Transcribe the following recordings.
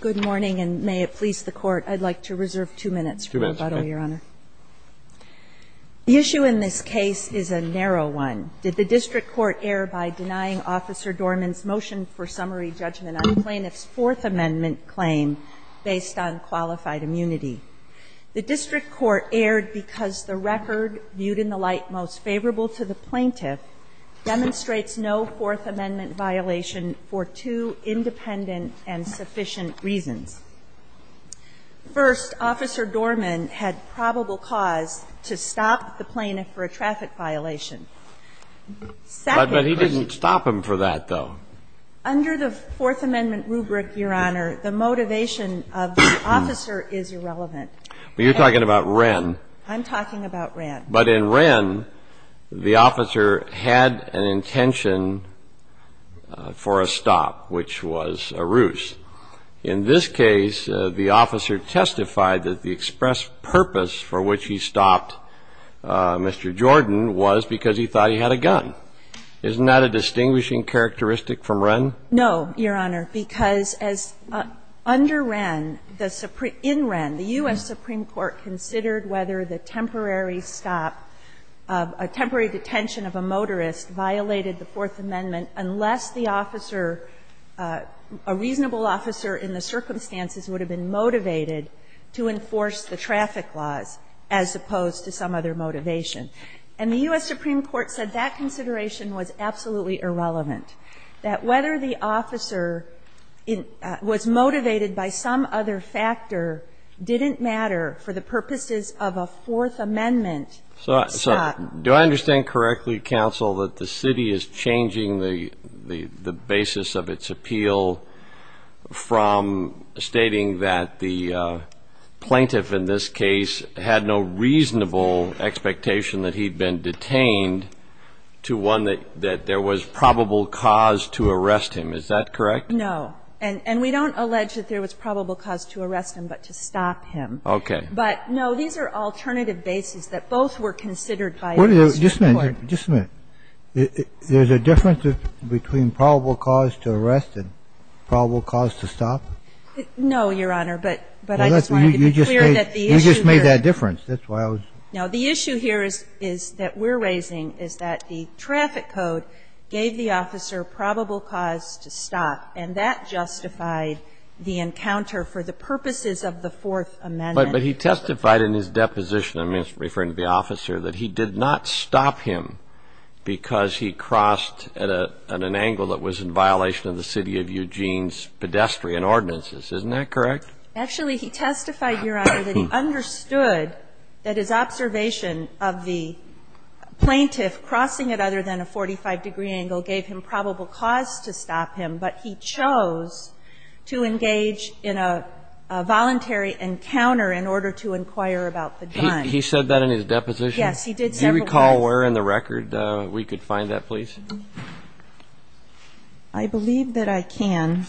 Good morning, and may it please the Court, I'd like to reserve two minutes for rebuttal, Your Honor. The issue in this case is a narrow one. Did the district court err by denying Officer Dorman's motion for summary judgment on the plaintiff's Fourth Amendment claim based on qualified immunity? The district court erred because the record, viewed in the light most favorable to the plaintiff, demonstrates no Fourth Amendment violation for two independent and sufficient reasons. First, Officer Dorman had probable cause to stop the plaintiff for a traffic violation. Second, the plaintiff's motive for stopping the plaintiff for a traffic violation You're talking about Wren. I'm talking about Wren. But in Wren, the officer had an intention for a stop, which was a ruse. In this case, the officer testified that the express purpose for which he stopped Mr. Jordan was because he thought he had a gun. Isn't that a distinguishing characteristic from Wren? No, Your Honor, because under Wren, the Supreme Court, in Wren, the U.S. Supreme Court considered whether the temporary stop, a temporary detention of a motorist violated the Fourth Amendment unless the officer, a reasonable officer in the circumstances would have been motivated to enforce the traffic laws, as opposed to some other motivation. And the U.S. Supreme Court said that consideration was absolutely irrelevant. That whether the officer was motivated by some other factor didn't matter for the purposes of a Fourth Amendment stop. Do I understand correctly, counsel, that the city is changing the basis of its appeal from stating that the plaintiff in this case had no reasonable expectation that he'd been detained to one that there was probable cause to arrest him? Is that correct? No. And we don't allege that there was probable cause to arrest him, but to stop him. Okay. But, no, these are alternative bases that both were considered by the U.S. Supreme Court. Just a minute. Just a minute. There's a difference between probable cause to arrest and probable cause to stop? No, Your Honor, but I just wanted to be clear that the issue here is that we're raising is that the traffic code gave the officer probable cause to stop, and that justified the encounter for the purposes of the Fourth Amendment. But he testified in his deposition, I mean, referring to the officer, that he did not stop him because he crossed at an angle that was in violation of the city of Eugene's pedestrian ordinances. Isn't that correct? Actually, he testified, Your Honor, that he understood that his observation of the plaintiff crossing at other than a 45-degree angle gave him probable cause to stop him, but he chose to engage in a voluntary encounter in order to inquire about the gun. He said that in his deposition? Yes. He did several times. I believe that I can.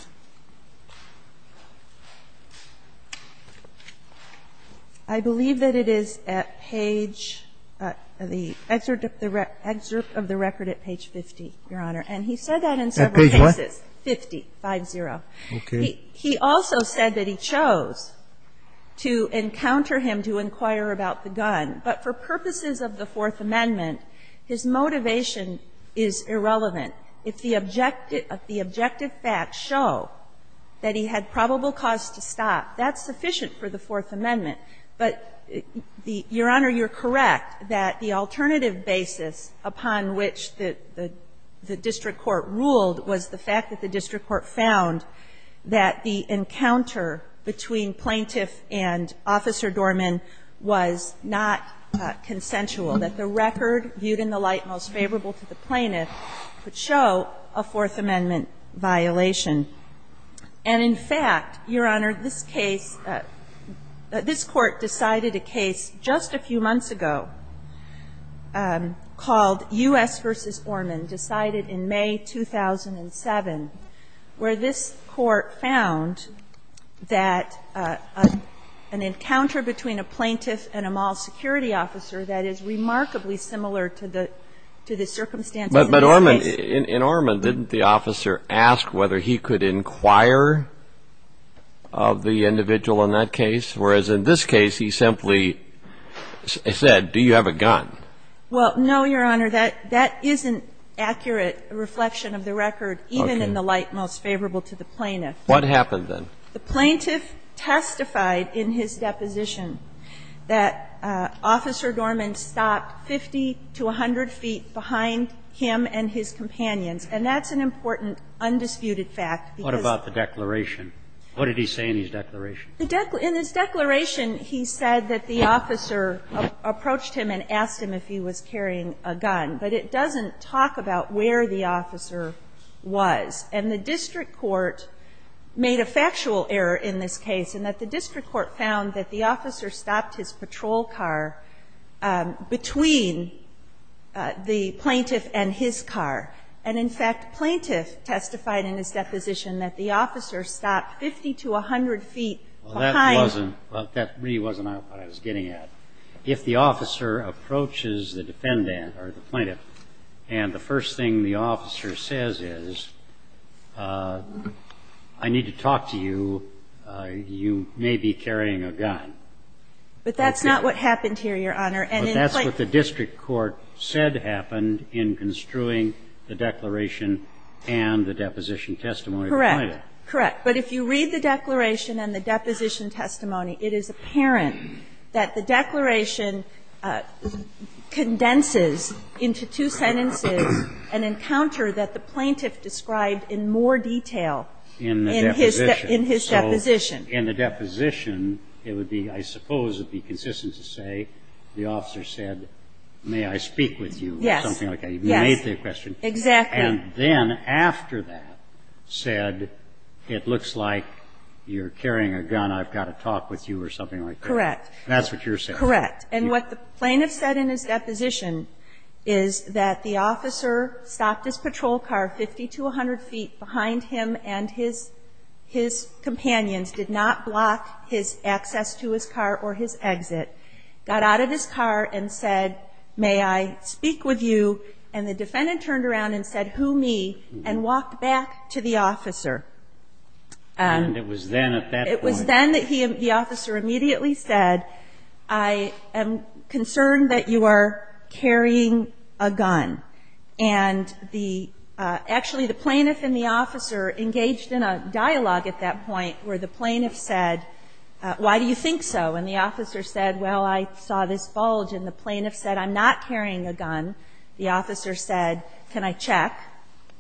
I believe that it is at page the excerpt of the record at page 50, Your Honor. And he said that in several cases. At page what? 50, 5-0. Okay. He also said that he chose to encounter him to inquire about the gun, but for purposes of the Fourth Amendment, his motivation is irrelevant. If the objective facts show that he had probable cause to stop, that's sufficient for the Fourth Amendment. But, Your Honor, you're correct that the alternative basis upon which the district court ruled was the fact that the district court found that the encounter between a plaintiff and a mall security officer that is reasonable, that the plaintiff was a potential, that the record viewed in the light most favorable to the plaintiff would show a Fourth Amendment violation. And, in fact, Your Honor, this case, this Court decided a case just a few months ago called U.S. v. Orman, decided in May 2007, where this Court found that an encounter between a plaintiff and a mall security officer that is remarkably similar to the circumstances in this case. But Orman, in Orman, didn't the officer ask whether he could inquire of the individual in that case, whereas in this case, he simply said, do you have a gun? Well, no, Your Honor. That isn't accurate reflection of the record, even in the light most favorable to the plaintiff. What happened then? The plaintiff testified in his deposition that Officer Dorman stopped 50 to 100 feet behind him and his companions, and that's an important undisputed fact, because What about the declaration? What did he say in his declaration? In his declaration, he said that the officer approached him and asked him if he was carrying a gun, but it doesn't talk about where the officer was. And the district court made a factual error in this case, in that the district court found that the officer stopped his patrol car between the plaintiff and his car. And, in fact, plaintiff testified in his deposition that the officer stopped 50 to 100 feet behind him. Well, that really wasn't what I was getting at. If the officer approaches the defendant or the plaintiff, and the first thing the officer says is, I need to talk to you, you may be carrying a gun. But that's not what happened here, Your Honor. But that's what the district court said happened in construing the declaration and the deposition testimony of the plaintiff. Correct. Correct. But if you read the declaration and the deposition testimony, it is apparent that the declaration condenses into two sentences an encounter that the plaintiff described in more detail in his deposition. In the deposition, it would be, I suppose, it would be consistent to say, the officer said, may I speak with you, or something like that, he made the question. Yes, exactly. And then after that, said, it looks like you're carrying a gun, I've got to talk with you, or something like that. Correct. That's what you're saying. Correct. And what the plaintiff said in his deposition is that the officer stopped his patrol car 50 to 100 feet behind him, and his companions did not block his access to his car or his exit, got out of his car and said, may I speak with you, and the defendant turned around and said, who me, and walked back to the officer. And it was then at that point. It was then that he, the officer immediately said, I am concerned that you are carrying a gun. And the, actually, the plaintiff and the officer engaged in a dialogue at that point where the plaintiff said, why do you think so, and the officer said, well, I saw this bulge, and the plaintiff said, I'm not carrying a gun. The officer said, can I check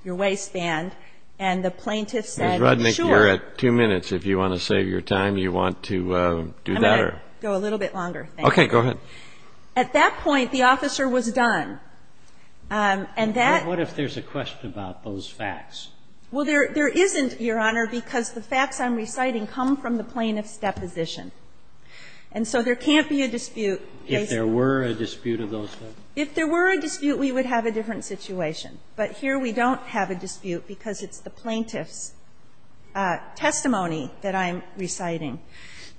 your waistband, and the plaintiff said, sure. Ms. Rudnick, you're at two minutes. If you want to save your time, you want to do that or? I'm going to go a little bit longer, thank you. Okay. Go ahead. At that point, the officer was done. And that What if there's a question about those facts? Well, there isn't, Your Honor, because the facts I'm reciting come from the plaintiff's deposition. And so there can't be a dispute. If there were a dispute of those facts? If there were a dispute, we would have a different situation. But here we don't have a dispute because it's the plaintiff's testimony that I'm reciting.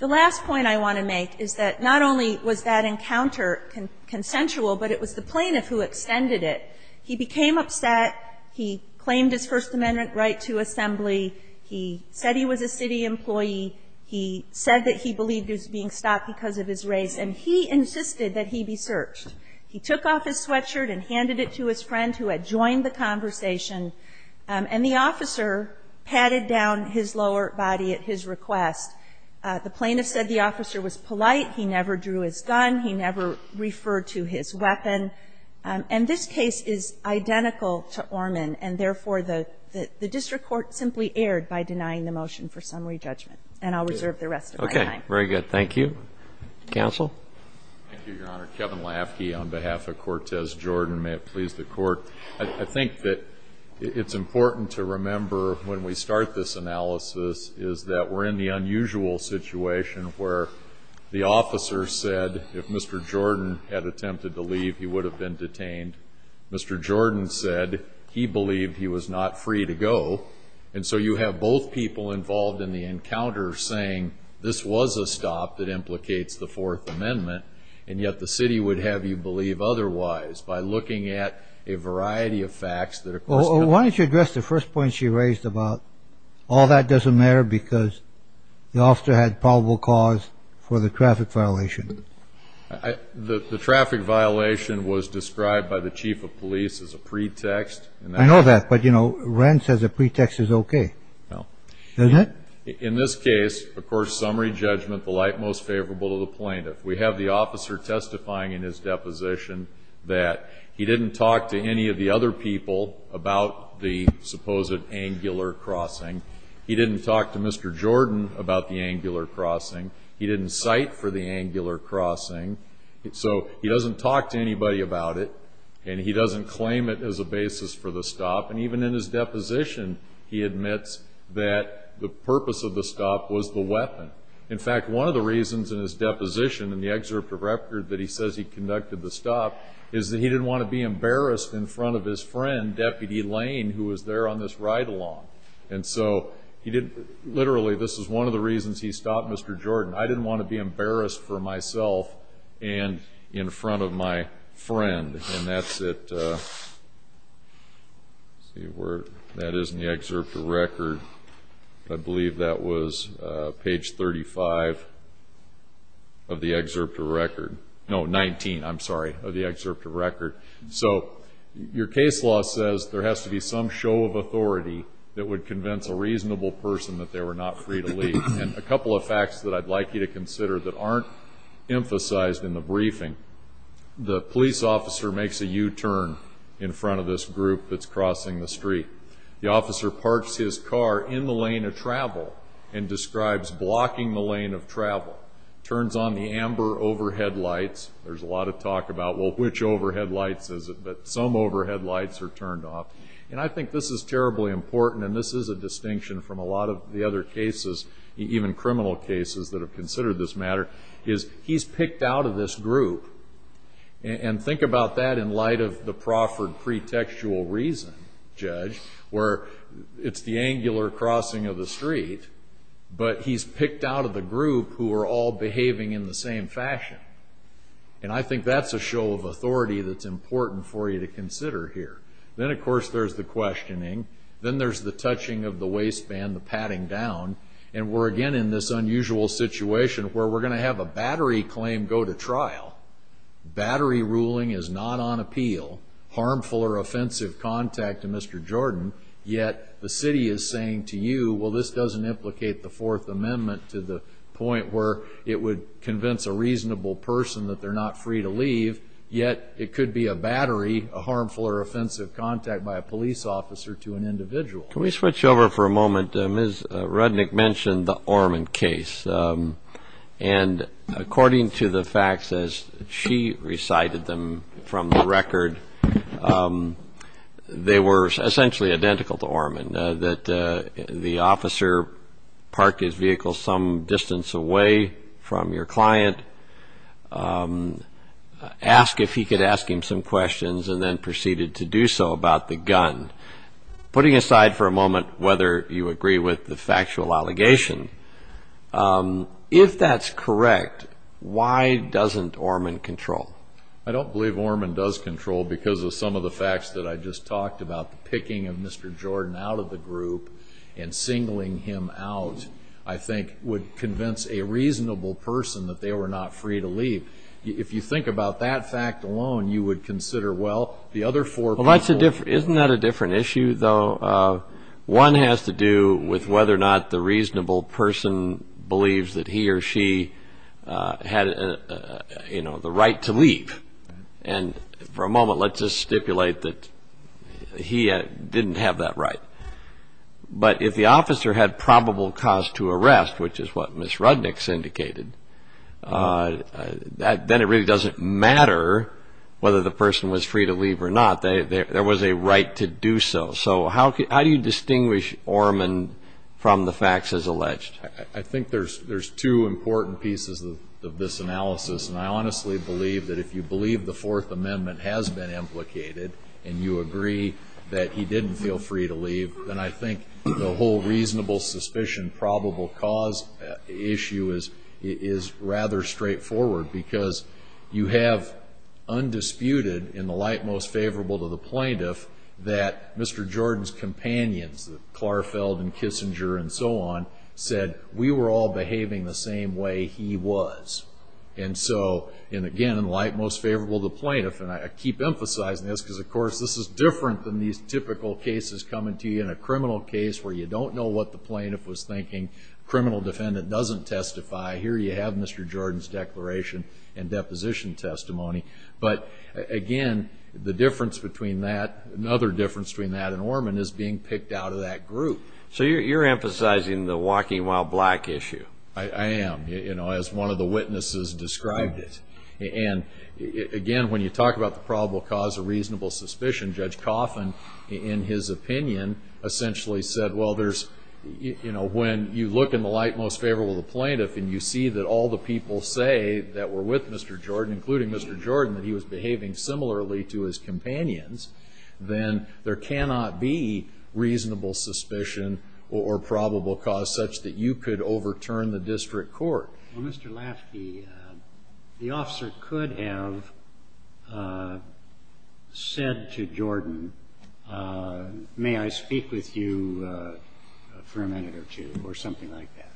The last point I want to make is that not only was that encounter consensual, but it was the plaintiff who extended it. He became upset. He claimed his First Amendment right to assembly. He said he was a city employee. He said that he believed he was being stopped because of his race. And he insisted that he be searched. He took off his sweatshirt and handed it to his friend who had joined the conversation. And the officer patted down his lower body at his request. The plaintiff said the officer was polite. He never drew his gun. He never referred to his weapon. And this case is identical to Orman. And therefore, the district court simply erred by denying the motion for summary judgment. And I'll reserve the rest of my time. Okay. Very good. Thank you. Counsel? Thank you, Your Honor. Kevin Lafke. On behalf of Cortez Jordan, may it please the court, I think that it's important to remember when we start this analysis is that we're in the unusual situation where the officer said if Mr. Jordan had attempted to leave, he would have been detained. Mr. Jordan said he believed he was not free to go. And so you have both people involved in the encounter saying this was a stop that implicates the Fourth Amendment. And yet the city would have you believe otherwise by looking at a variety of facts that are. Well, why don't you address the first point she raised about all that doesn't matter because the officer had probable cause for the traffic violation. The traffic violation was described by the chief of police as a pretext. I know that. But, you know, rents as a pretext is okay. No. Isn't it? In this case, of course, summary judgment, the light most favorable to the plaintiff. We have the officer testifying in his deposition that he didn't talk to any of the other people about the supposed angular crossing. He didn't talk to Mr. Jordan about the angular crossing. He didn't cite for the angular crossing. So he doesn't talk to anybody about it. And he doesn't claim it as a basis for the stop. And even in his deposition, he admits that the purpose of the stop was the weapon. In fact, one of the reasons in his deposition in the excerpt of record that he says he conducted the stop is that he didn't want to be embarrassed in front of his friend, Deputy Lane, who was there on this ride-along. And so, literally, this is one of the reasons he stopped Mr. Jordan. I didn't want to be embarrassed for myself and in front of my friend. And that's at, let's see where that is in the excerpt of record. I believe that was page 35 of the excerpt of record. No, 19, I'm sorry, of the excerpt of record. So your case law says there has to be some show of authority that would convince a reasonable person that they were not free to leave. And a couple of facts that I'd like you to consider that aren't emphasized in the briefing. The police officer makes a U-turn in front of this group that's crossing the street. The officer parks his car in the lane of travel and describes blocking the lane of travel. Turns on the amber overhead lights. There's a lot of talk about, well, which overhead lights is it? But some overhead lights are turned off. And I think this is terribly important, and this is a distinction from a lot of the other cases, even criminal cases that have considered this matter, is he's picked out of this group. And think about that in light of the Crawford pretextual reason, Judge, where it's the angular crossing of the street, but he's picked out of the group who are all behaving in the same fashion. And I think that's a show of authority that's important for you to consider here. Then, of course, there's the questioning. Then there's the touching of the waistband, the patting down. And we're again in this unusual situation where we're gonna have a battery claim go to trial. Battery ruling is not on appeal, harmful or offensive contact to Mr. Jordan. Yet the city is saying to you, well, this doesn't implicate the Fourth Amendment to the point where it would convince a reasonable person that they're not free to leave, yet it could be a battery, a harmful or offensive contact by a police officer to an individual. Can we switch over for a moment? Ms. Rudnick mentioned the Ormond case. And according to the facts as she recited them from the record, they were essentially identical to Ormond. That the officer parked his vehicle some distance away from your client, asked if he could ask him some questions, and then proceeded to do so about the gun. Putting aside for a moment whether you agree with the factual allegation, if that's correct, why doesn't Ormond control? I don't believe Ormond does control because of some of the facts that I just talked about, the picking of Mr. Jordan out of the group and singling him out, I think, would convince a reasonable person that they were not free to leave. If you think about that fact alone, you would consider, well, the other four people- Isn't that a different issue, though? One has to do with whether or not the reasonable person believes that he or she had the right to leave. And for a moment, let's just stipulate that he didn't have that right. But if the officer had probable cause to arrest, which is what Ms. Rudnick's indicated, then it really doesn't matter whether the person was free to leave or not. There was a right to do so. So how do you distinguish Ormond from the facts as alleged? I think there's two important pieces of this analysis, and I honestly believe that if you believe the Fourth Amendment has been implicated, and you agree that he didn't feel free to leave, then I think the whole reasonable suspicion, probable cause issue is rather straightforward because you have undisputed, in the light most favorable to the plaintiff, that Mr. Jordan's companions, that Klarfeld and Kissinger and so on, said we were all behaving the same way he was. And so, and again, in light most favorable to the plaintiff, and I keep emphasizing this because, of course, this is different than these typical cases coming to you in a criminal case where you don't know what the plaintiff was thinking. Criminal defendant doesn't testify. Here you have Mr. Jordan's declaration and deposition testimony. But again, the difference between that, another difference between that and Ormond, is being picked out of that group. So you're emphasizing the walking while black issue. I am, as one of the witnesses described it. And again, when you talk about the probable cause of reasonable suspicion, Judge Coffin, in his opinion, essentially said, well, there's, when you look in the light most favorable to the plaintiff and you see that all the people say that were with Mr. Jordan, including Mr. Jordan, that he was behaving similarly to his companions, then there cannot be reasonable suspicion or probable cause such that you could overturn the district court. Well, Mr. Lasky, the officer could have said to Jordan, may I speak with you for a minute or two, or something like that.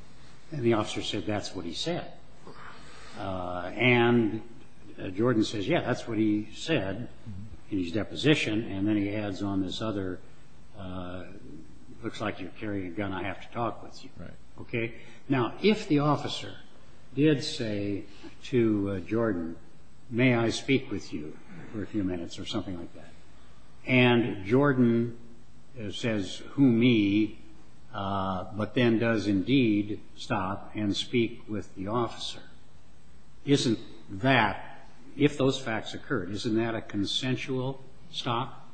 And the officer said, that's what he said. And Jordan says, yeah, that's what he said in his deposition. And then he adds on this other, looks like you're carrying a gun, I have to talk with you, okay? Now, if the officer did say to Jordan, may I speak with you for a few minutes, or something like that. And Jordan says, who me, but then does indeed stop and speak with the officer. Isn't that, if those facts occur, isn't that a consensual stop?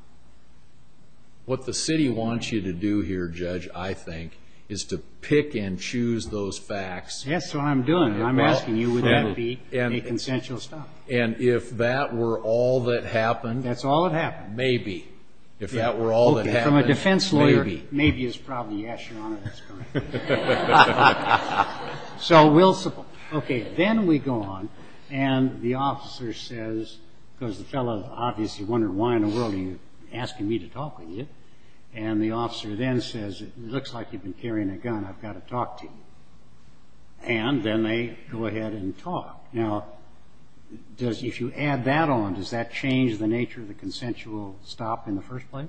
What the city wants you to do here, Judge, I think, is to pick and choose those facts. That's what I'm doing. I'm asking you, would that be a consensual stop? And if that were all that happened. That's all that happened. Maybe. If that were all that happened. From a defense lawyer, maybe is probably, yes, Your Honor, that's correct. So we'll, okay, then we go on, and the officer says, because the fellow obviously wondered why in the world are you asking me to talk with you. And the officer then says, it looks like you've been carrying a gun, I've got to talk to you. And then they go ahead and talk. Now, if you add that on, does that change the nature of the consensual stop in the first place?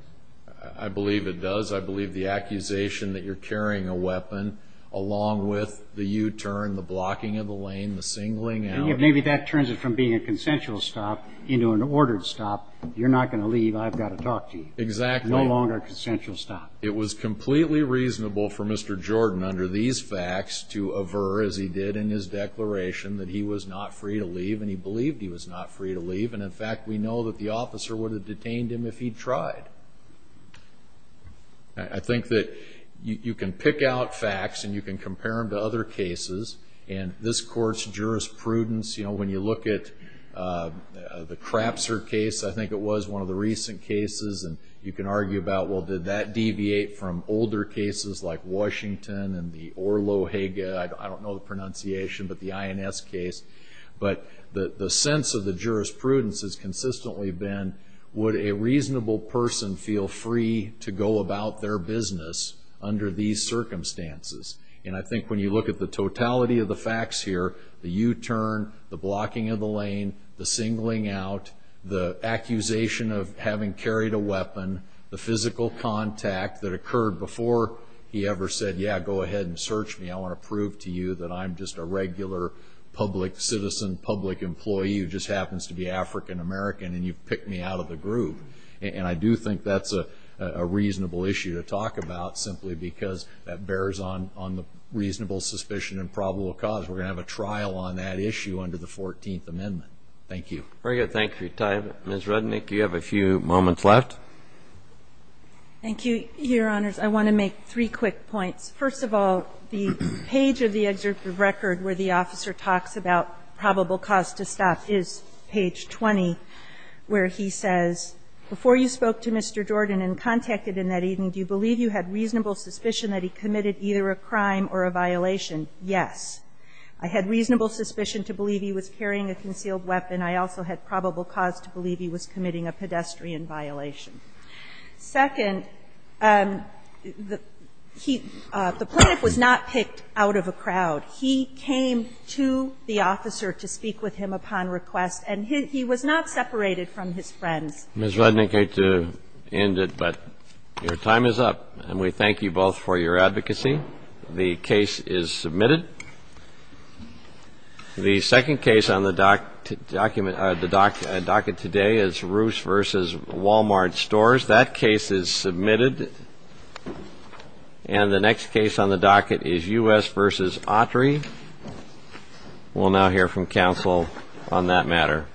I believe it does. I believe the accusation that you're carrying a weapon, along with the U-turn, the blocking of the lane, the singling out. And if maybe that turns it from being a consensual stop into an ordered stop, you're not going to leave, I've got to talk to you. Exactly. No longer a consensual stop. It was completely reasonable for Mr. Jordan, under these facts, to aver, as he did in his declaration, that he was not free to leave. And he believed he was not free to leave. And, in fact, we know that the officer would have detained him if he'd tried. I think that you can pick out facts and you can compare them to other cases. And this court's jurisprudence, when you look at the Crapser case, I think it was one of the recent cases. And you can argue about, well, did that deviate from older cases like Washington and the Orlo-Haga, I don't know the pronunciation, but the INS case. But the sense of the jurisprudence has consistently been, would a reasonable person feel free to go about their business under these circumstances? And I think when you look at the totality of the facts here, the U-turn, the blocking of the lane, the singling out, the accusation of having carried a weapon, the physical contact that occurred before he ever said, yeah, go ahead and search me. I want to prove to you that I'm just a regular public citizen, public employee who just happens to be African-American, and you've picked me out of the group. And I do think that's a reasonable issue to talk about simply because that bears on the reasonable suspicion and probable cause. We're going to have a trial on that issue under the 14th Amendment. Thank you. Very good. Thanks for your time. Ms. Rudnick, you have a few moments left. Thank you, Your Honors. I want to make three quick points. First of all, the page of the executive record where the officer talks about probable cause to stop is page 20, where he says, Before you spoke to Mr. Jordan and contacted him that evening, do you believe you had reasonable suspicion that he committed either a crime or a violation? Yes. I had reasonable suspicion to believe he was carrying a concealed weapon. I also had probable cause to believe he was committing a pedestrian violation. Second, the plaintiff was not picked out of a crowd. He came to the officer to speak with him upon request, and he was not separated from his friends. Ms. Rudnick, I hate to end it, but your time is up. And we thank you both for your advocacy. The case is submitted. The second case on the docket today is Roos versus Walmart Stores. That case is submitted. And the next case on the docket is U.S. versus Autry. We'll now hear from counsel on that matter.